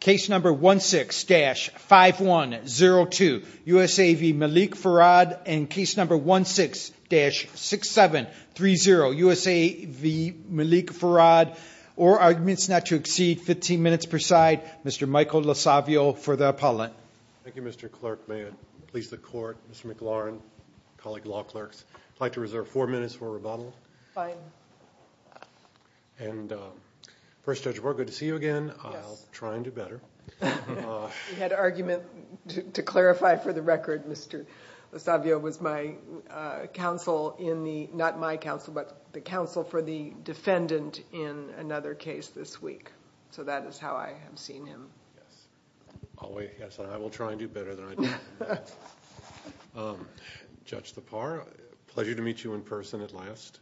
Case number 16-5102, USA v. Malik Farrad, and case number 16-6730, USA v. Malik Farrad. Or arguments not to exceed 15 minutes per side, Mr. Michael LoSavio for the appellant. Thank you, Mr. Clerk. May it please the court, Mr. McLaurin, colleague law clerks. I'd like to reserve four minutes for rebuttal. Fine. And, First Judge Brewer, good to see you again. I'll try and do better. We had an argument, to clarify for the record, Mr. LoSavio was my counsel in the, not my counsel, but the counsel for the defendant in another case this week. So that is how I have seen him. Yes, I will try and do better than I did. Judge Thapar, pleasure to meet you in person at last.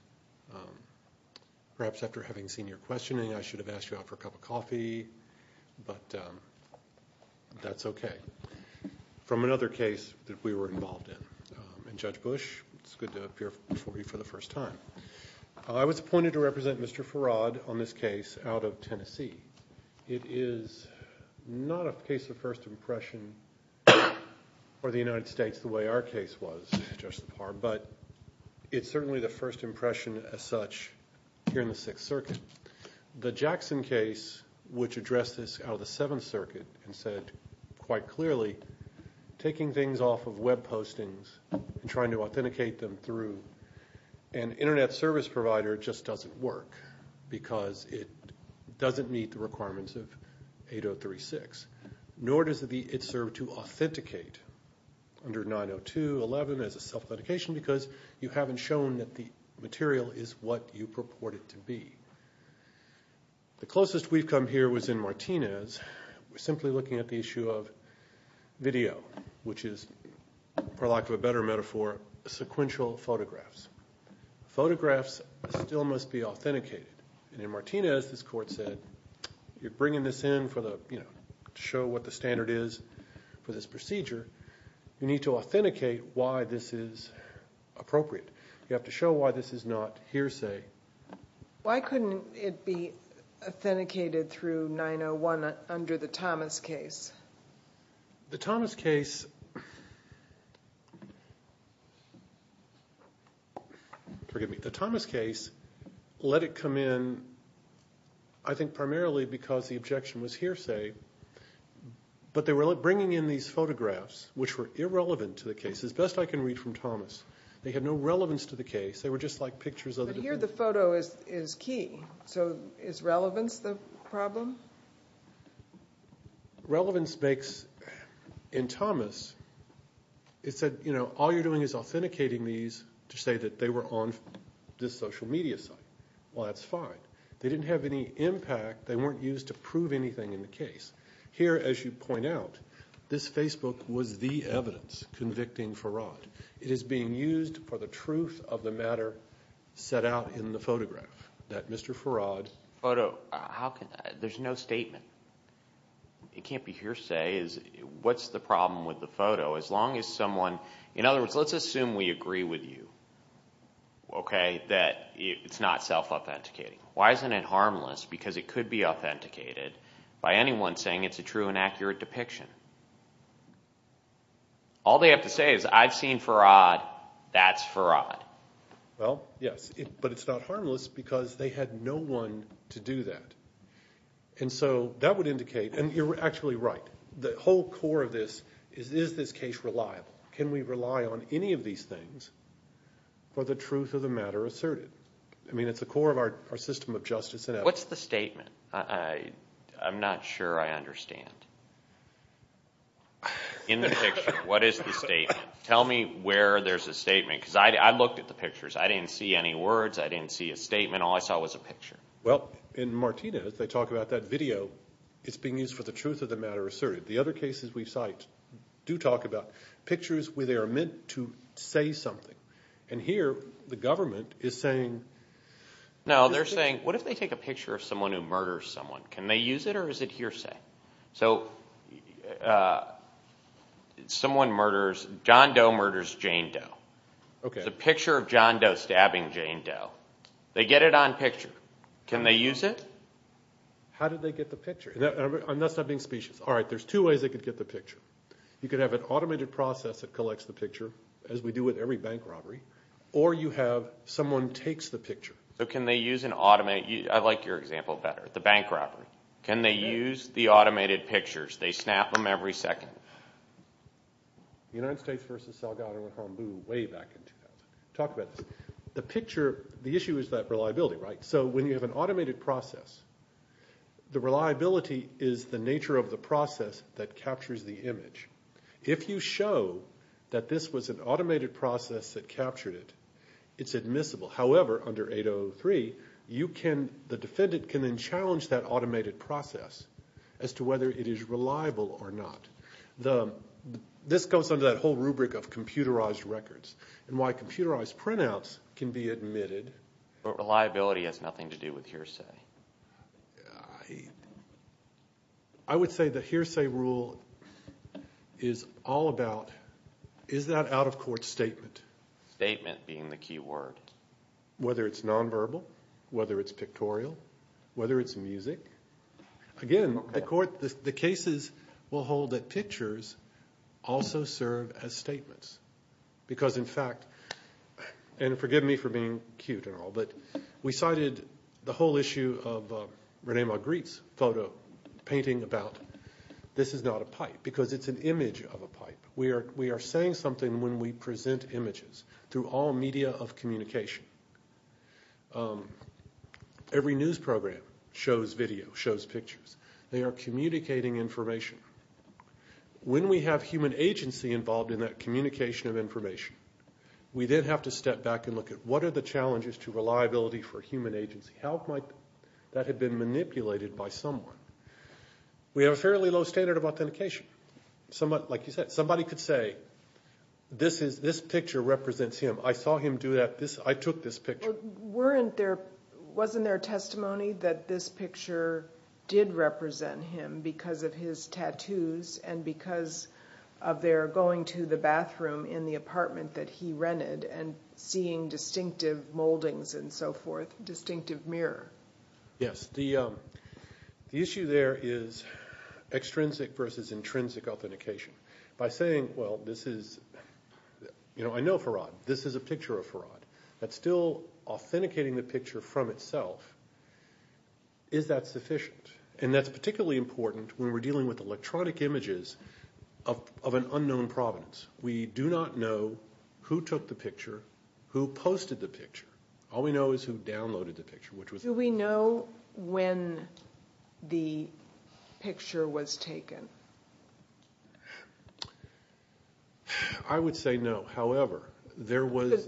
Perhaps after having seen your questioning, I should have asked you out for a cup of coffee, but that's okay. From another case that we were involved in. And Judge Bush, it's good to appear before you for the first time. I was appointed to represent Mr. Farrad on this case out of Tennessee. It is not a case of first impression for the United States the way our case was, Judge Thapar, but it's certainly the first impression as such here in the Sixth Circuit. The Jackson case, which addressed this out of the Seventh Circuit and said quite clearly, taking things off of web postings and trying to authenticate them through an internet service provider just doesn't work. Because it doesn't meet the requirements of 8036. Nor does it serve to authenticate under 902.11 as a self-authentication because you haven't shown that the material is what you purport it to be. The closest we've come here was in Martinez. We're simply looking at the issue of video, which is, for lack of a better metaphor, sequential photographs. Photographs still must be authenticated. And in Martinez, this court said, you're bringing this in to show what the standard is for this procedure. You need to authenticate why this is appropriate. You have to show why this is not hearsay. Why couldn't it be authenticated through 901 under the Thomas case? The Thomas case... Forgive me. The Thomas case let it come in, I think primarily because the objection was hearsay. But they were bringing in these photographs, which were irrelevant to the case, as best I can read from Thomas. They had no relevance to the case. They were just like pictures of... But here the photo is key. So is relevance the problem? Relevance makes... In Thomas, it said, you know, all you're doing is authenticating these to say that they were on this social media site. Well, that's fine. They didn't have any impact. They weren't used to prove anything in the case. Here, as you point out, this Facebook was the evidence convicting Farad. It is being used for the truth of the matter set out in the photograph that Mr. Farad... There's no statement. It can't be hearsay. What's the problem with the photo? As long as someone... In other words, let's assume we agree with you, okay, that it's not self-authenticating. Why isn't it harmless? Because it could be authenticated by anyone saying it's a true and accurate depiction. All they have to say is, I've seen Farad. That's Farad. Well, yes. But it's not harmless because they had no one to do that. And so that would indicate... And you're actually right. The whole core of this is, is this case reliable? Can we rely on any of these things for the truth of the matter asserted? I mean, it's the core of our system of justice. What's the statement? I'm not sure I understand. In the picture, what is the statement? Tell me where there's a statement. I looked at the pictures. I didn't see any words. I didn't see a statement. All I saw was a picture. Well, in Martinez, they talk about that video. It's being used for the truth of the matter asserted. The other cases we cite do talk about pictures where they are meant to say something. And here, the government is saying... No, they're saying, what if they take a picture of someone who murders someone? Can they use it or is it hearsay? So someone murders... John Doe murders Jane Doe. There's a picture of John Doe stabbing Jane Doe. They get it on picture. Can they use it? How did they get the picture? I'm not being specious. All right, there's two ways they could get the picture. You could have an automated process that collects the picture, as we do with every bank robbery, or you have someone takes the picture. So can they use an automated... I like your example better, the bank robbery. Can they use the automated pictures? They snap them every second. The United States v. Salgado and Hombu way back in 2000. Talk about this. The picture... The issue is that reliability, right? So when you have an automated process, the reliability is the nature of the process that captures the image. If you show that this was an automated process that captured it, it's admissible. However, under 803, the defendant can then challenge that automated process as to whether it is reliable or not. This goes under that whole rubric of computerized records and why computerized printouts can be admitted. Reliability has nothing to do with hearsay. I would say the hearsay rule is all about... Is that out-of-court statement? Statement being the key word. Whether it's nonverbal? Whether it's pictorial? Whether it's music? Again, at court, the cases will hold that pictures also serve as statements. Because in fact... And forgive me for being cute and all, but we cited the whole issue of Rene Magritte's photo painting about this is not a pipe because it's an image of a pipe. We are saying something when we present images through all media of communication. Every news program shows video, shows pictures. They are communicating information. When we have human agency involved in that communication of information, we then have to step back and look at what are the challenges to reliability for human agency? How might that have been manipulated by someone? We have a fairly low standard of authentication. Like you said, somebody could say, this picture represents him. I saw him do that. I took this picture. Wasn't there testimony that this picture did represent him because of his tattoos and because of their going to the bathroom in the apartment that he rented and seeing distinctive moldings and so forth, distinctive mirror? Yes. The issue there is extrinsic versus intrinsic authentication. By saying, well, this is... That's still authenticating the picture from itself. Is that sufficient? That's particularly important when we're dealing with electronic images of an unknown province. We do not know who took the picture, who posted the picture. All we know is who downloaded the picture. Do we know when the picture was taken? I would say no.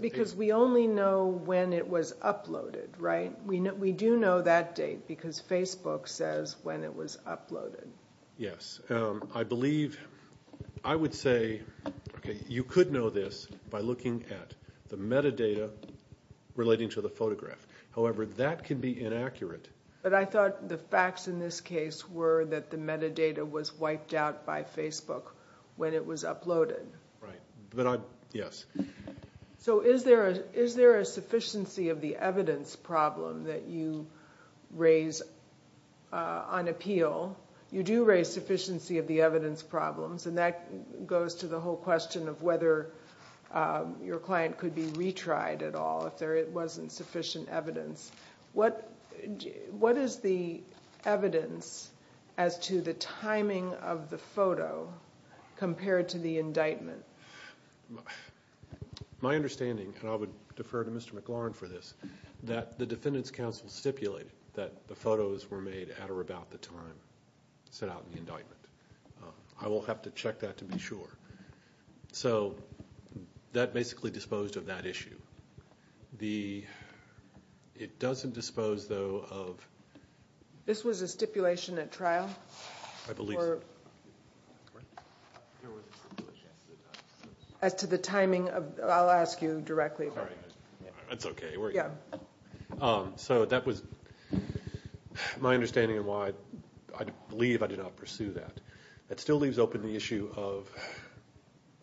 Because we only know when it was uploaded, right? We do know that date because Facebook says when it was uploaded. Yes. I believe... I would say you could know this by looking at the metadata relating to the photograph. However, that can be inaccurate. But I thought the facts in this case were that the metadata was wiped out by Facebook when it was uploaded. Right. But I... Yes. So is there a sufficiency of the evidence problem that you raise on appeal? You do raise sufficiency of the evidence problems. And that goes to the whole question of whether your client could be retried at all if there wasn't sufficient evidence. What is the evidence as to the timing of the photo compared to the indictment? My understanding, and I would defer to Mr. McLaurin for this, that the defendants' counsel stipulated that the photos were made at or about the time set out in the indictment. I will have to check that to be sure. So that basically disposed of that issue. The... It doesn't dispose, though, of... This was a stipulation at trial? I believe so. There was a stipulation. As to the timing of... I'll ask you directly about it. That's okay. Yeah. So that was my understanding of why I believe I did not pursue that. That still leaves open the issue of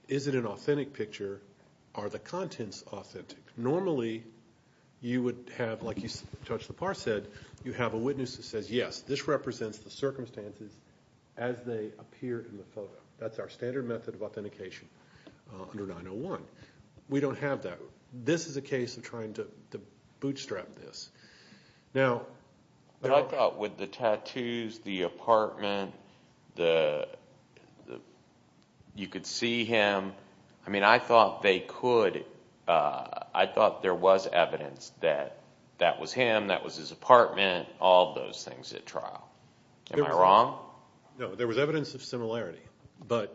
is it an authentic picture? Are the contents authentic? Normally, you would have, like Judge Lepar said, you have a witness that says, yes, this represents the circumstances as they appear in the photo. That's our standard method of authentication under 901. We don't have that. This is a case of trying to bootstrap this. Now... But I thought with the tattoos, the apartment, the... You could see him. I mean, I thought they could... I thought there was evidence that that was him, that was his apartment, all those things at trial. Am I wrong? No, there was evidence of similarity. But...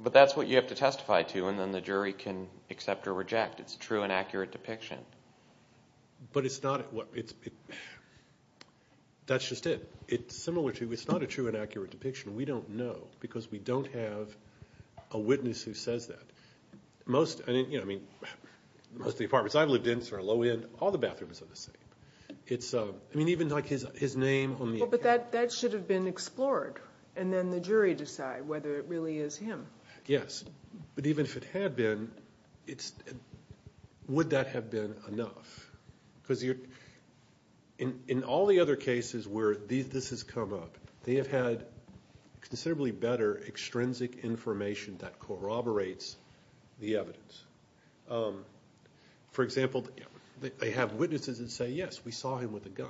But that's what you have to testify to and then the jury can accept or reject. It's a true and accurate depiction. But it's not... That's just it. It's similar to... It's not a true and accurate depiction. We don't know because we don't have a witness who says that. Most... I mean, most of the apartments I've lived in are low-end. All the bathrooms are the same. It's... I mean, even like his name on the... But that should have been explored and then the jury decide whether it really is him. Yes. But even if it had been, it's... Would that have been enough? Because you're... In all the other cases where this has come up, they have had considerably better extrinsic information that corroborates the evidence. For example, they have witnesses that say, yes, we saw him with a gun.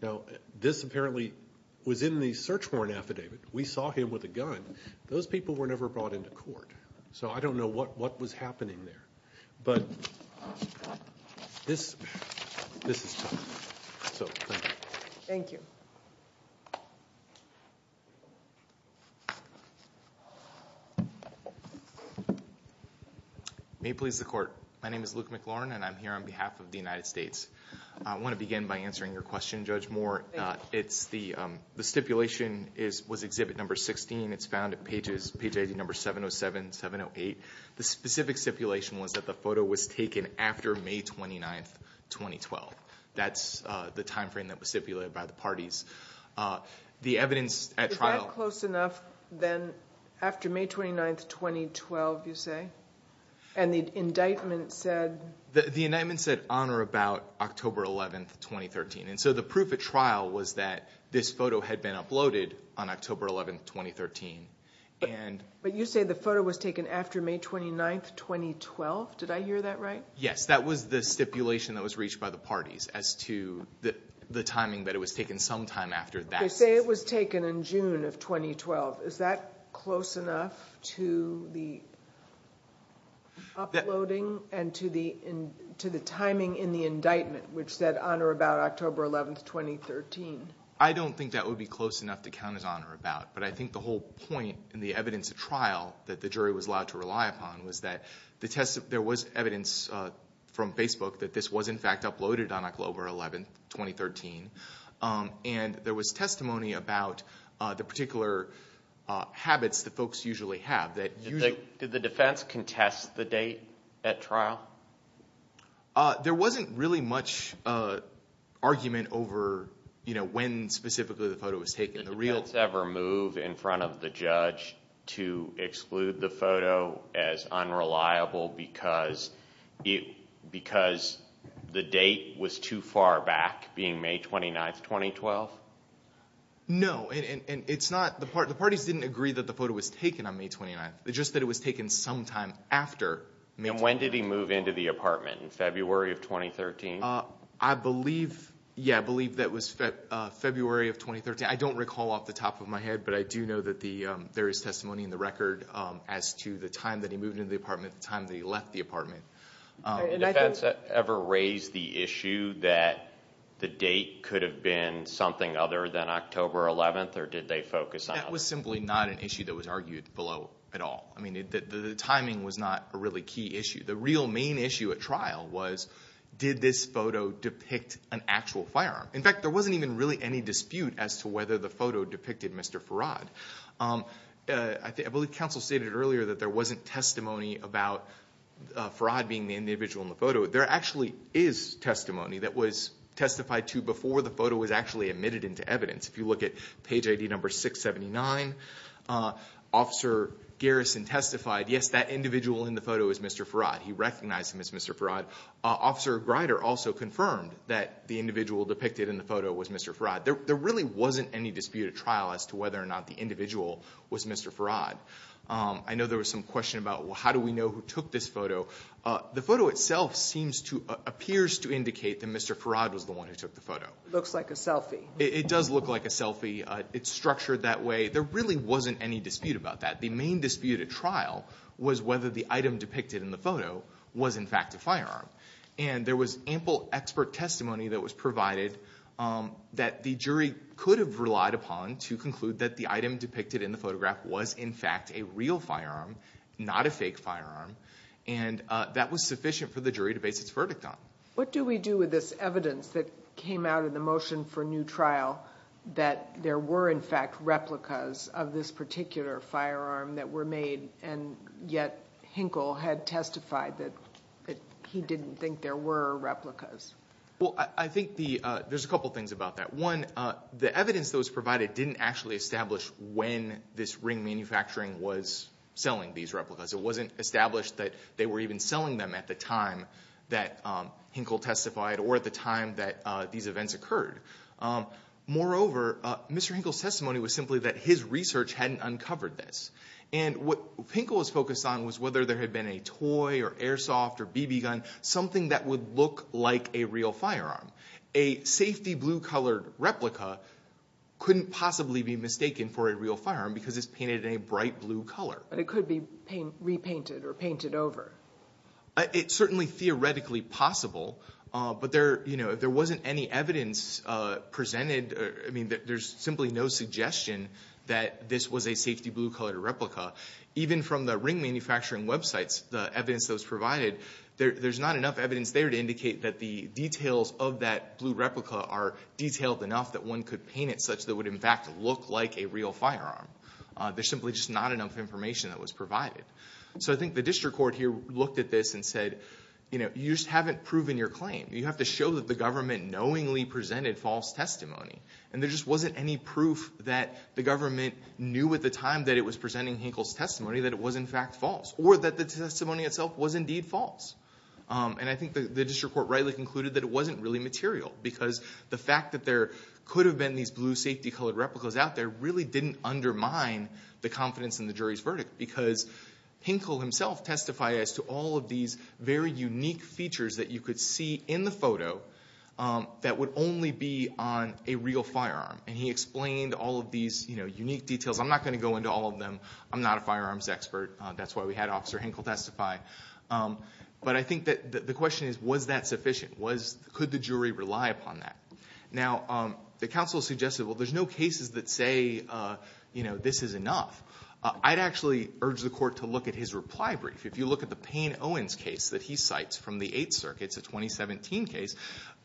Now, this apparently was in the search warrant affidavit. We saw him with a gun. Those people were never brought into court. So I don't know what was happening there. But this... This is tough. So, thank you. Thank you. May it please the court. My name is Luke McLaurin and I'm here on behalf of the United States. I want to begin by answering your question, Judge Moore. Thank you. It's the... The stipulation is... Was exhibit number 16. It's found at pages... Page number 707, 708. The specific stipulation was that the photo was taken after May 29th, 2012. That's the time frame that was stipulated by the parties. The evidence at trial... Is that close enough than after May 29th, 2012, you say? And the indictment said... The indictment said on or about October 11th, 2013. And so the proof at trial was that this photo had been uploaded on October 11th, 2013. And... But you say the photo was taken after May 29th, 2012. Did I hear that right? Yes. That was the stipulation that was reached by the parties as to the timing that it was taken sometime after that. You say it was taken in June of 2012. Is that close enough to the uploading and to the... in the indictment which said on or about October 11th, 2013? I don't think that would be close enough to count as on or about. But I think the whole point in the evidence at trial that the jury was allowed to rely upon was that there was evidence from Facebook that this was in fact uploaded on October 11th, 2013. And there was testimony about the particular habits that folks usually have. Did the defense contest the date at trial? There wasn't really much argument over when specifically the photo was taken. Did the defense ever move in front of the judge to exclude the photo as unreliable because the date was too far back being May 29th, 2012? No. And it's not... The parties didn't agree that the photo was taken on May 29th. It's just that it was taken sometime after May 29th. And when did he move into the apartment? In February of 2013? I believe... Yeah, I believe that was February of 2013. I don't recall off the top of my head, but I do know that there is testimony in the record as to the time that he moved into the apartment and the time that he left the apartment. Did the defense ever raise the issue that the date could have been something other than October 11th or did they focus on... That was simply not an issue that was argued below at all. I mean, the timing was not a really key issue. The real main issue at trial was did this photo depict an actual firearm? In fact, there wasn't even really any dispute as to whether the photo depicted Mr. Farad. I believe counsel stated earlier that there wasn't testimony about Farad being the individual in the photo. There actually is testimony that was testified to before the photo was actually admitted into evidence. If you look at page ID number 679, Officer Garrison testified, yes, that individual in the photo is Mr. Farad. He recognized him as Mr. Farad. Officer Greider also confirmed that the individual depicted in the photo was Mr. Farad. There really wasn't any dispute at trial as to whether or not the individual was Mr. Farad. I know there was some question about how do we know who took this photo? The photo itself seems to... appears to indicate that Mr. Farad was the one who took the photo. Looks like a selfie. It does look like a selfie. It's structured that way. There really wasn't any dispute about that. The main dispute at trial was whether the item depicted in the photo was, in fact, a firearm. And there was ample expert testimony that was provided that the jury could have relied upon to conclude that the item depicted in the photograph was, in fact, a real firearm, not a fake firearm. And that was sufficient for the jury to base its verdict on. What do we do with this evidence that came out in the motion for new trial that there were, in fact, replicas of this particular firearm that were made and yet Hinkle had testified that he didn't think there were replicas? Well, I think there's a couple things about that. One, the evidence that was provided didn't actually establish when this ring manufacturing was selling these replicas. It wasn't established that they were even selling them at the time that Hinkle testified or at the time that these events occurred. Moreover, Mr. Hinkle's testimony was simply that his research hadn't uncovered this. And what Hinkle was focused on was whether there had been a toy or airsoft or BB gun, something that would look like a real firearm. A safety blue-colored replica couldn't possibly be mistaken for a real firearm because it's painted in a bright blue color. But it could be repainted or painted over. It's certainly theoretically possible, but there, you know, if there wasn't any evidence presented, I mean, there's simply no suggestion that this was a safety blue-colored replica. Even from the ring manufacturing websites, the evidence that was provided, there's not enough evidence there to indicate that the details of that blue replica are detailed enough that one could paint it such that it would, in fact, look like a real firearm. There's simply just not enough information that was provided. So I think the district court here looked at this and said, you know, you just haven't proven your claim. You have to show that the government knowingly presented false testimony. And there just wasn't any proof that the government knew at the time that it was presenting Hinkle's testimony that it was, in fact, false. Or that the testimony itself was, indeed, false. And I think the district court rightly concluded that it wasn't really material because the fact that there could have been these blue safety-colored replicas out there really didn't undermine the confidence in the jury's verdict because Hinkle himself testified as to all of these very unique features that you could see in the photo that would only be on a real firearm. And he explained all of these unique details. I'm not going to go into all of them. I'm not a firearms expert. That's why we had Officer Hinkle testify. But I think that the question is, was that sufficient? Could the jury rely upon that? Now, the counsel suggested, well, there's no cases that say, you know, this is enough. I'd actually urge the court to look at his reply brief. If you look at the Payne-Owens case that he cites from the Eighth Circuit, it's a 2017 case,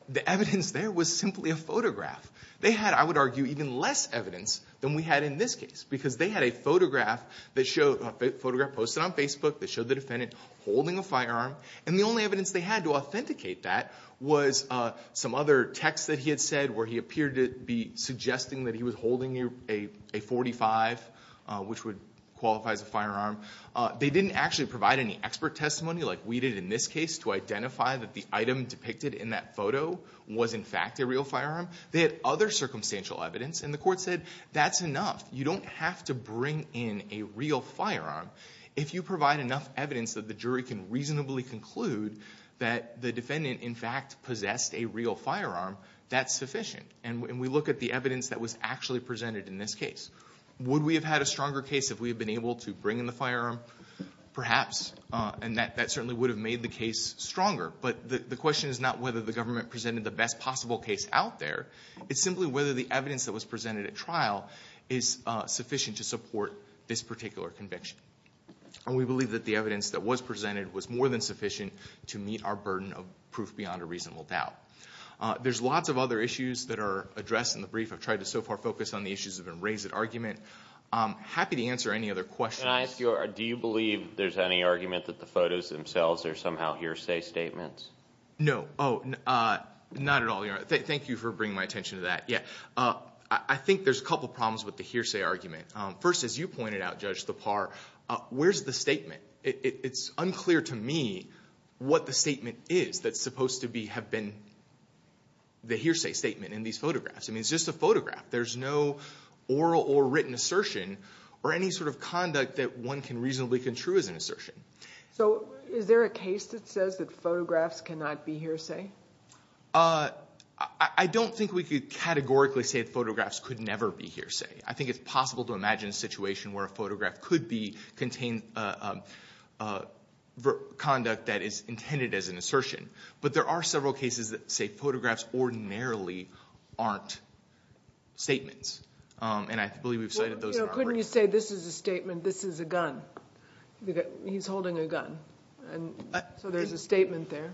the evidence there was simply a photograph. They had, I would argue, even less evidence than we had in this case because they had a photograph that showed, a photograph posted on Facebook that showed the defendant holding a firearm. And the only evidence they had to authenticate that was some other text that he had said where he appeared to be suggesting that he was holding a .45, which would qualify as a firearm. They didn't actually provide any expert testimony like we did in this case to identify that the item depicted in that photo was in fact a real firearm. They had other circumstantial evidence and the court said, that's enough. You don't have to bring in a real firearm. If you provide enough evidence that the jury can reasonably conclude that the defendant in fact possessed a real firearm, that's sufficient. And we look at the evidence that was actually presented in this case. Would we have had a stronger case if we had been able to bring in the firearm? Perhaps. And that certainly would have made the case stronger. But the question is not whether the government presented the best possible case out there, it's simply whether the evidence that was presented at trial is sufficient to support this particular conviction. And we believe that the evidence that was presented was more than sufficient to meet our burden of proof beyond a reasonable doubt. There's lots of other issues that are addressed in the brief. I've tried to so far focus on the issues that have been raised at argument. I'm happy to answer any other questions. Can I ask you, do you believe there's any argument that the photos themselves are somehow hearsay statements? No. Not at all. Thank you for bringing my attention to that. I think there's a couple problems with the hearsay argument. First, as you pointed out, Judge Thapar, where's the statement? It's unclear to me what the statement is that's supposed to have been the hearsay statement in these photographs. I mean, it's just a photograph. There's no oral or written assertion or any sort of can reasonably contrue as an assertion. So is there a case that says that photographs cannot be hearsay? I don't think we could categorically say that photographs could never be hearsay. I think it's possible to imagine a situation where a photograph could be contained conduct that is intended as an assertion. But there are several cases that say photographs aren't statements. And I believe we've cited those. Couldn't you say this is a statement, this is a gun? He's holding a gun. So there's a statement there.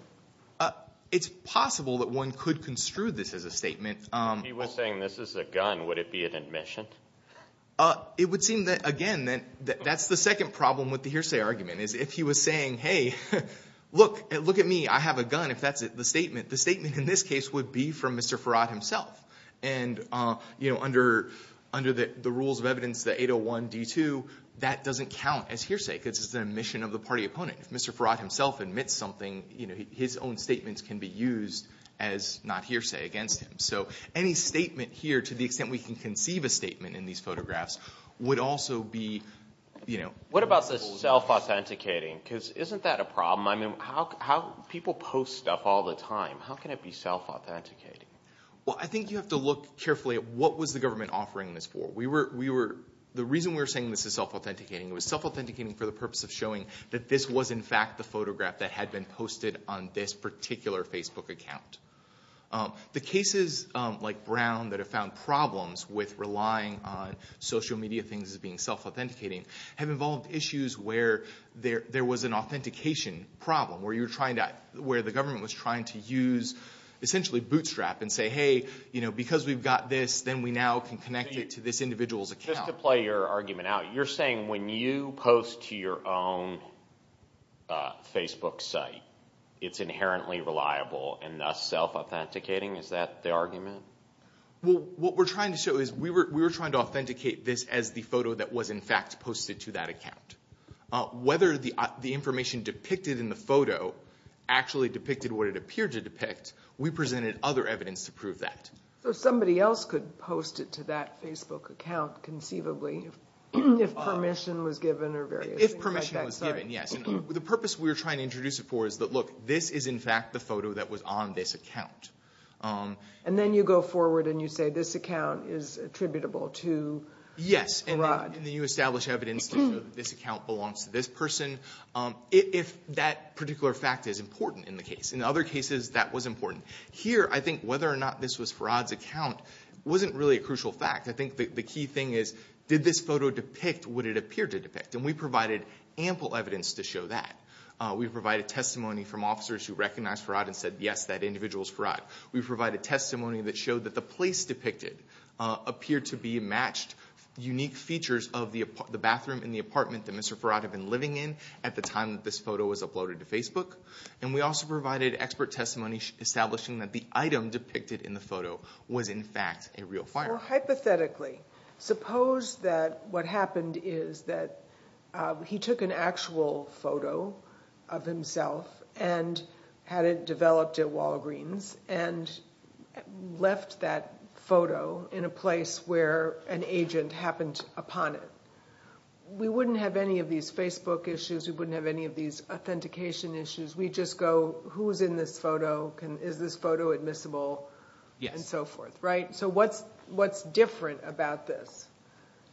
It's possible that one could construe this as a statement. If he was saying this is a gun, would it be an admission? It would seem that, again, that's the second problem with the hearsay If he was saying, hey, look at me, I have a gun, if that's the statement, the statement in this case would be from Mr. Faraday. If Mr. Faraday himself admits something, his own statements can be used as not hearsay against him. So any statement here to the extent we can conceive a statement in these photographs would also be... What about the self-authenticating? Because isn't that a problem? People post stuff all the time. How can it be self-authenticating? Well, I think you have to look carefully at what was the government offering this for. We were... The reason we were saying this is self-authenticating, it was self-authenticating for the purpose of showing that this was in fact the photograph that had been posted on this particular Facebook account. The cases like Brown that have found problems with relying on social media things as being self-authenticating have involved issues where there was an authentication problem where the government was trying to use essentially bootstrap and say, hey, because we've got this, then we now can connect it to this individual's account. Just to play your argument out, you're saying when you post to your own Facebook site, it's inherently reliable and thus self-authenticating? Is that the argument? What we're trying to show is we were trying to authenticate this as the posted this photo actually depicted what it appeared to depict. We presented other evidence to prove that. So somebody else could post it to that Facebook account conceivably if permission was given? If permission was given, yes. The purpose we were trying to introduce it for is that look, this is in fact the photo that was on this account. This particular fact is important in the case. In other cases, that was important. Here, I think whether or not this was Farad's account wasn't really a crucial fact. I think the key thing is did this photo depict what it appeared to depict? And we provided ample evidence to show that. We provided testimony from officers who worked on Facebook and we also provided expert testimony establishing that the item depicted in the photo was in fact a real fire. Hypothetically, suppose that what happened is that he took an actual photo of himself and had it developed at Walgreens and left that photo in a place where an agent happened upon it. We wouldn't have any of those information issues. We just go who is in this photo, is this photo admissible and so forth. So what's different about this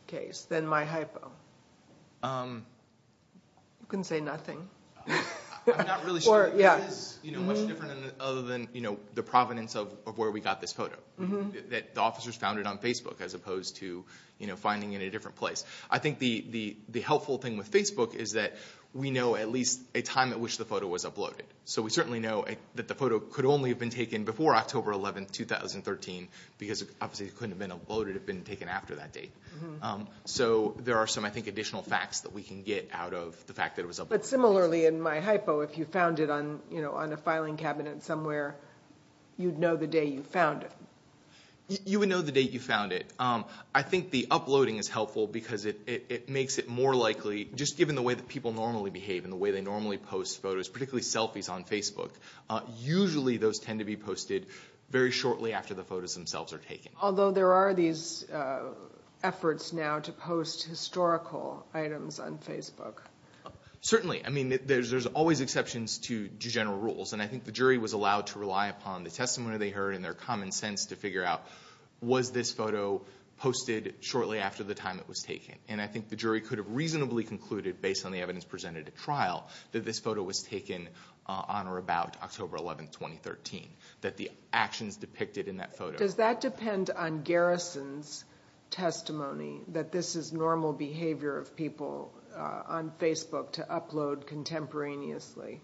case than my hypo? You can say nothing. I'm not really sure. It is much different other than the provenance of where we got this photo. The officers found it on Facebook. I think the helpful thing with Facebook is that we know at least a time at which the photo was uploaded. We know the photo could only have been taken before October 11, 2013. There are additional facts we can get out of the fact it was uploaded. If you found it on a filing cabinet somewhere, you would know the day you found it. You would know the day you found it. I think the uploading is helpful because it makes it more likely just given the way people normally post photos, particularly selfies on Facebook. Usually those tend to be posted shortly after the photos are taken. Although there are efforts now to post historical items on Facebook. Certainly. There are exceptions to general rules. The jury was allowed to rely on their common sense to figure out was this photo posted shortly after it was taken. The jury could have reasonably concluded based on the evidence presented at trial that this photo was taken on or about October 11, 2013. That the actions depicted in that photo. Does that depend on Garrison's testimony that this is normal behavior of people on Facebook to upload contemporaneously?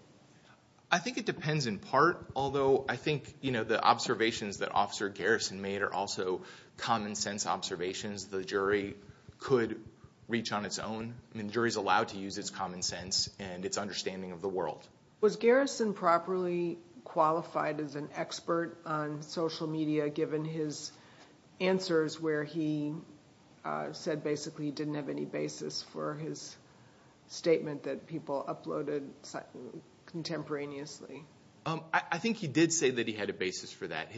I think it depends in part. Although I think the observations that officer Garrison made are also common sense observations. The jury could reach on its own. The jury is allowed to use common sense and understanding of the world. Was Garrison properly qualified as an expert on social media given his answers where he said basically he didn't have any basis for his statement that people uploaded contemporaneously? I think he did say that he had a basis for that.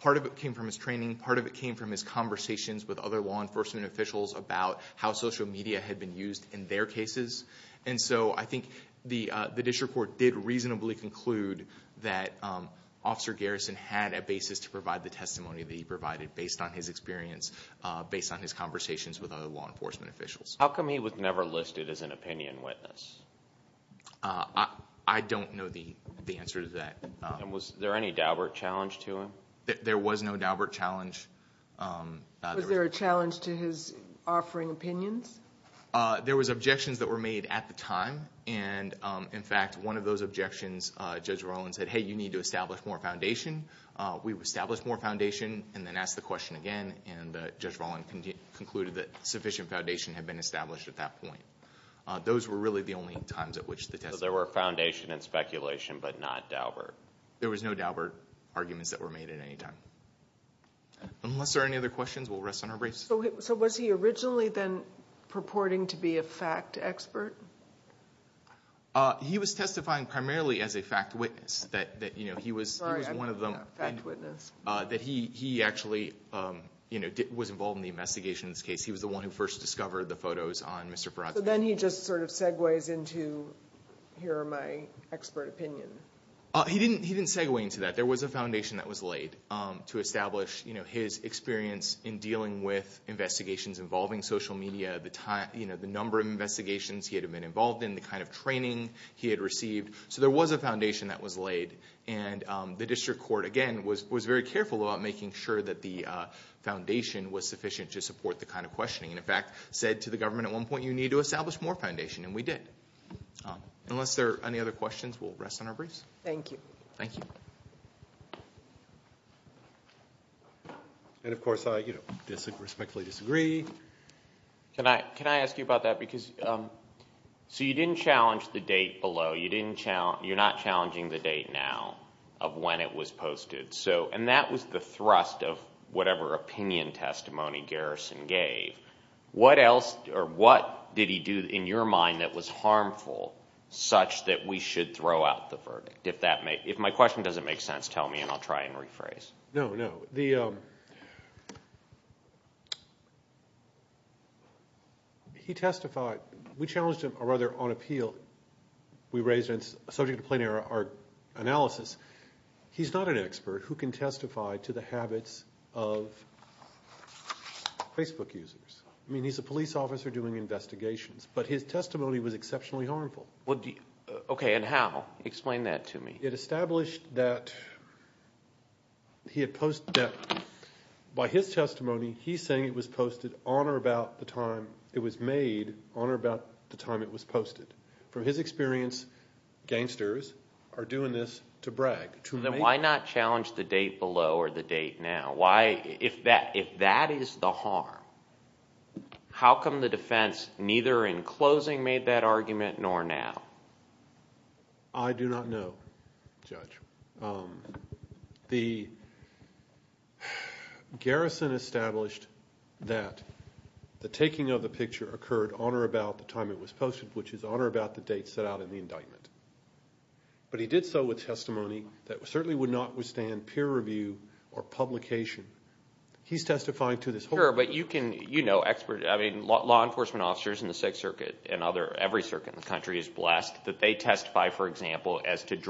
Part of it came from his training and part of it came from his conversations with other law enforcement officials about how social media had been used in their cases. I think the district court did reasonably conclude that officer Garrison had a basis to provide the testimony he provided based on his experience and conversations with other law enforcement officials. How come he was never listed as an opinion witness? I don't know the answer to that. Was there any Daubert challenge to him? There was no Daubert challenge. Was there a challenge to his offering opinions? There was objections that were made at the time. In fact, one of those objections, Judge Roland said, hey, you need to establish more foundation. We established more foundation and then asked the question again and Judge Roland concluded that sufficient foundation had been established at that point. Those were the only times. There was no Daubert arguments made at any time. Was he originally purporting to be a fact expert? He was testifying primarily as a fact witness. He was one of them. He actually was involved in the investigation. He was the one who first discovered the photos. Then he segues into here are my expert opinion. He didn't segue into that. There was a foundation laid to establish his experience in dealing with investigations involving social media. The number of investigations he had been involved in, the kind of training he had received. There was a foundation that was laid. The district court was very careful about making sure the foundation was sufficient to support the kind of questioning. He said to the public that he would not respectfully disagree. You didn't challenge the date below. You're not challenging the date now of when it was posted. That was the thrust of whatever opinion testimony Garrison gave. What did he do in your mind that was harmful such that we should throw out the verdict? If my question doesn't make sense, tell me and I'll try and rephrase. No, no. He testified. We challenged him on appeal. We raised it as subject to plain error analysis. He's not an expert who can testify to the habits of Facebook users. He's a police officer doing investigations. But his testimony was exceptionally harmful. And how? Explain that to me. It established that by his testimony he's saying it was or about the time it was made on or about the time it was posted. From his experience, gangsters are doing this to brag. Why not challenge the date below or the date now? If that is the harm, how come the defense neither in closing made that argument nor now? I do not know, Judge. The garrison established that the taking of the picture occurred on or about the time it was posted, which is on or about the date set out in the indictment. But he did so with testimony that certainly would not withstand peer review or publication. He's testifying to this. Sure, but you can, you know, law enforcement officers in the 6th Circuit and every circuit in the country is blessed that they get peer reviewed. It's not in articles.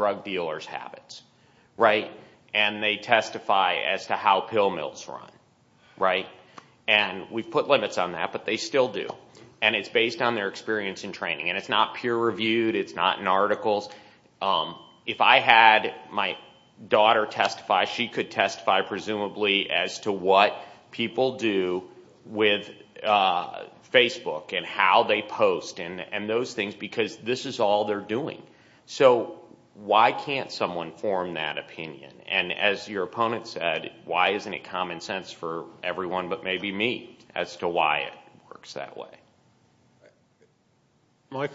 If I had my daughter testify, she could testify, presumably, as to what people do with Facebook and how they post and those things because this is all they're doing. So why can't someone form that opinion? And as your opponent said, why isn't it common for people to say, well, I don't want my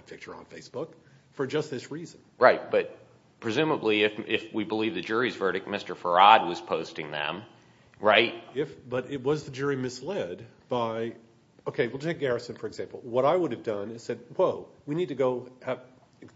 picture on Facebook for just this reason. Right, but presumably if we believe the jury's verdict, Mr. Farad was posting them, right? But it was the jury misled by, okay, well, Jake Garrison, for example, what I would have done is said, whoa, we need to go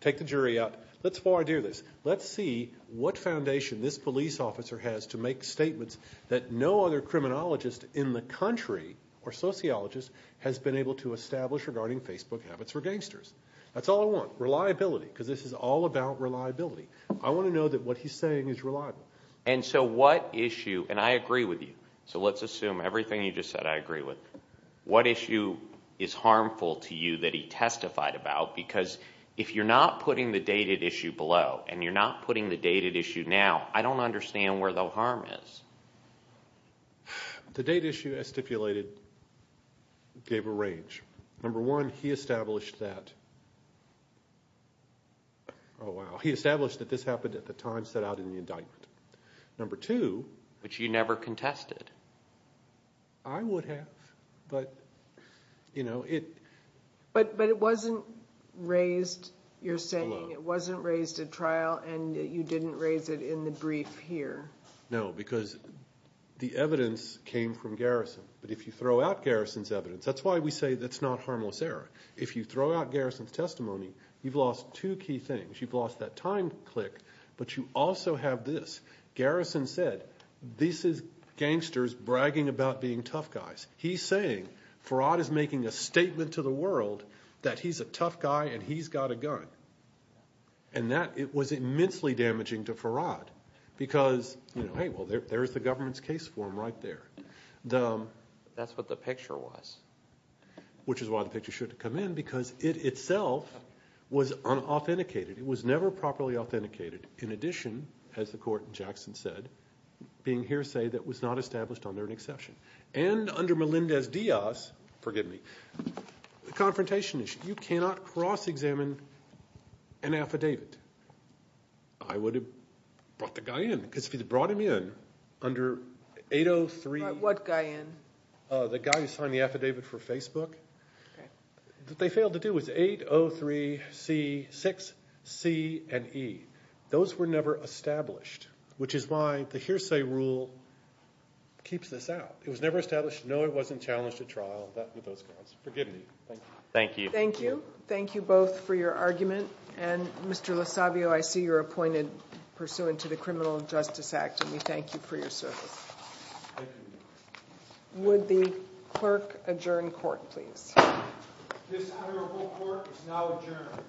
take the jury out, let's see what foundation this police officer has to make statements that no other criminologist in the country or sociologist has been able to establish regarding Facebook habits for gangsters. That's all I want, reliability, because this is all about reliability. I want to know that what he's saying is reliable. And so what issue, and I agree with you, so let's assume everything you just said I agree with, what issue is harmful to you that he testified about, because if you're not putting the dated issue below and you're not putting the dated issue now, I don't understand where the harm is. The dated issue as stipulated gave a rage. Number one, he established that, oh wow, he established that this happened at the time set out in the indictment. Number two, which you never contested. I would have, but, you know, it, but it wasn't raised, you're saying it wasn't raised at trial and you didn't raise it in the brief here. No, because the evidence came from Garrison, but if you throw out Garrison's evidence, that's why we say that's not harmless error. If you throw out Garrison's testimony, you've lost two key things. You've lost that time click, but you also have this. Garrison said, this is gangsters bragging about being tough guys. He's saying, Farhad is making a statement to the world that he's a tough guy and he's got a gun. And that, it was immensely damaging to Farhad, because, hey, there's the government's case form right there. That's what the picture was. Which is why the picture should have come in, because it itself was unauthenticated. It was never properly authenticated. In addition, as the court in Jackson said, being hearsay that was not established under an exception. And under Melendez-Diaz, forgive me, the confrontation issue, you cannot cross that line. point. And if I could examine an affidavit, I would have brought the guy in. Because if you brought him in under 803 the guy who signed the affidavit for Facebook, what they failed to do was 803C6C&E. Those were never established, which is why the hearsay rule keeps this out. It was never established. No, it wasn't challenged at trial. Forgive me. Thank you. Thank you. Thank you both for your argument. And Mr. LoSavio, I see you're appointed pursuant to the criminal justice act. And we thank you for your service. Would the clerk adjourn the hearing? This hearing is now adjourned.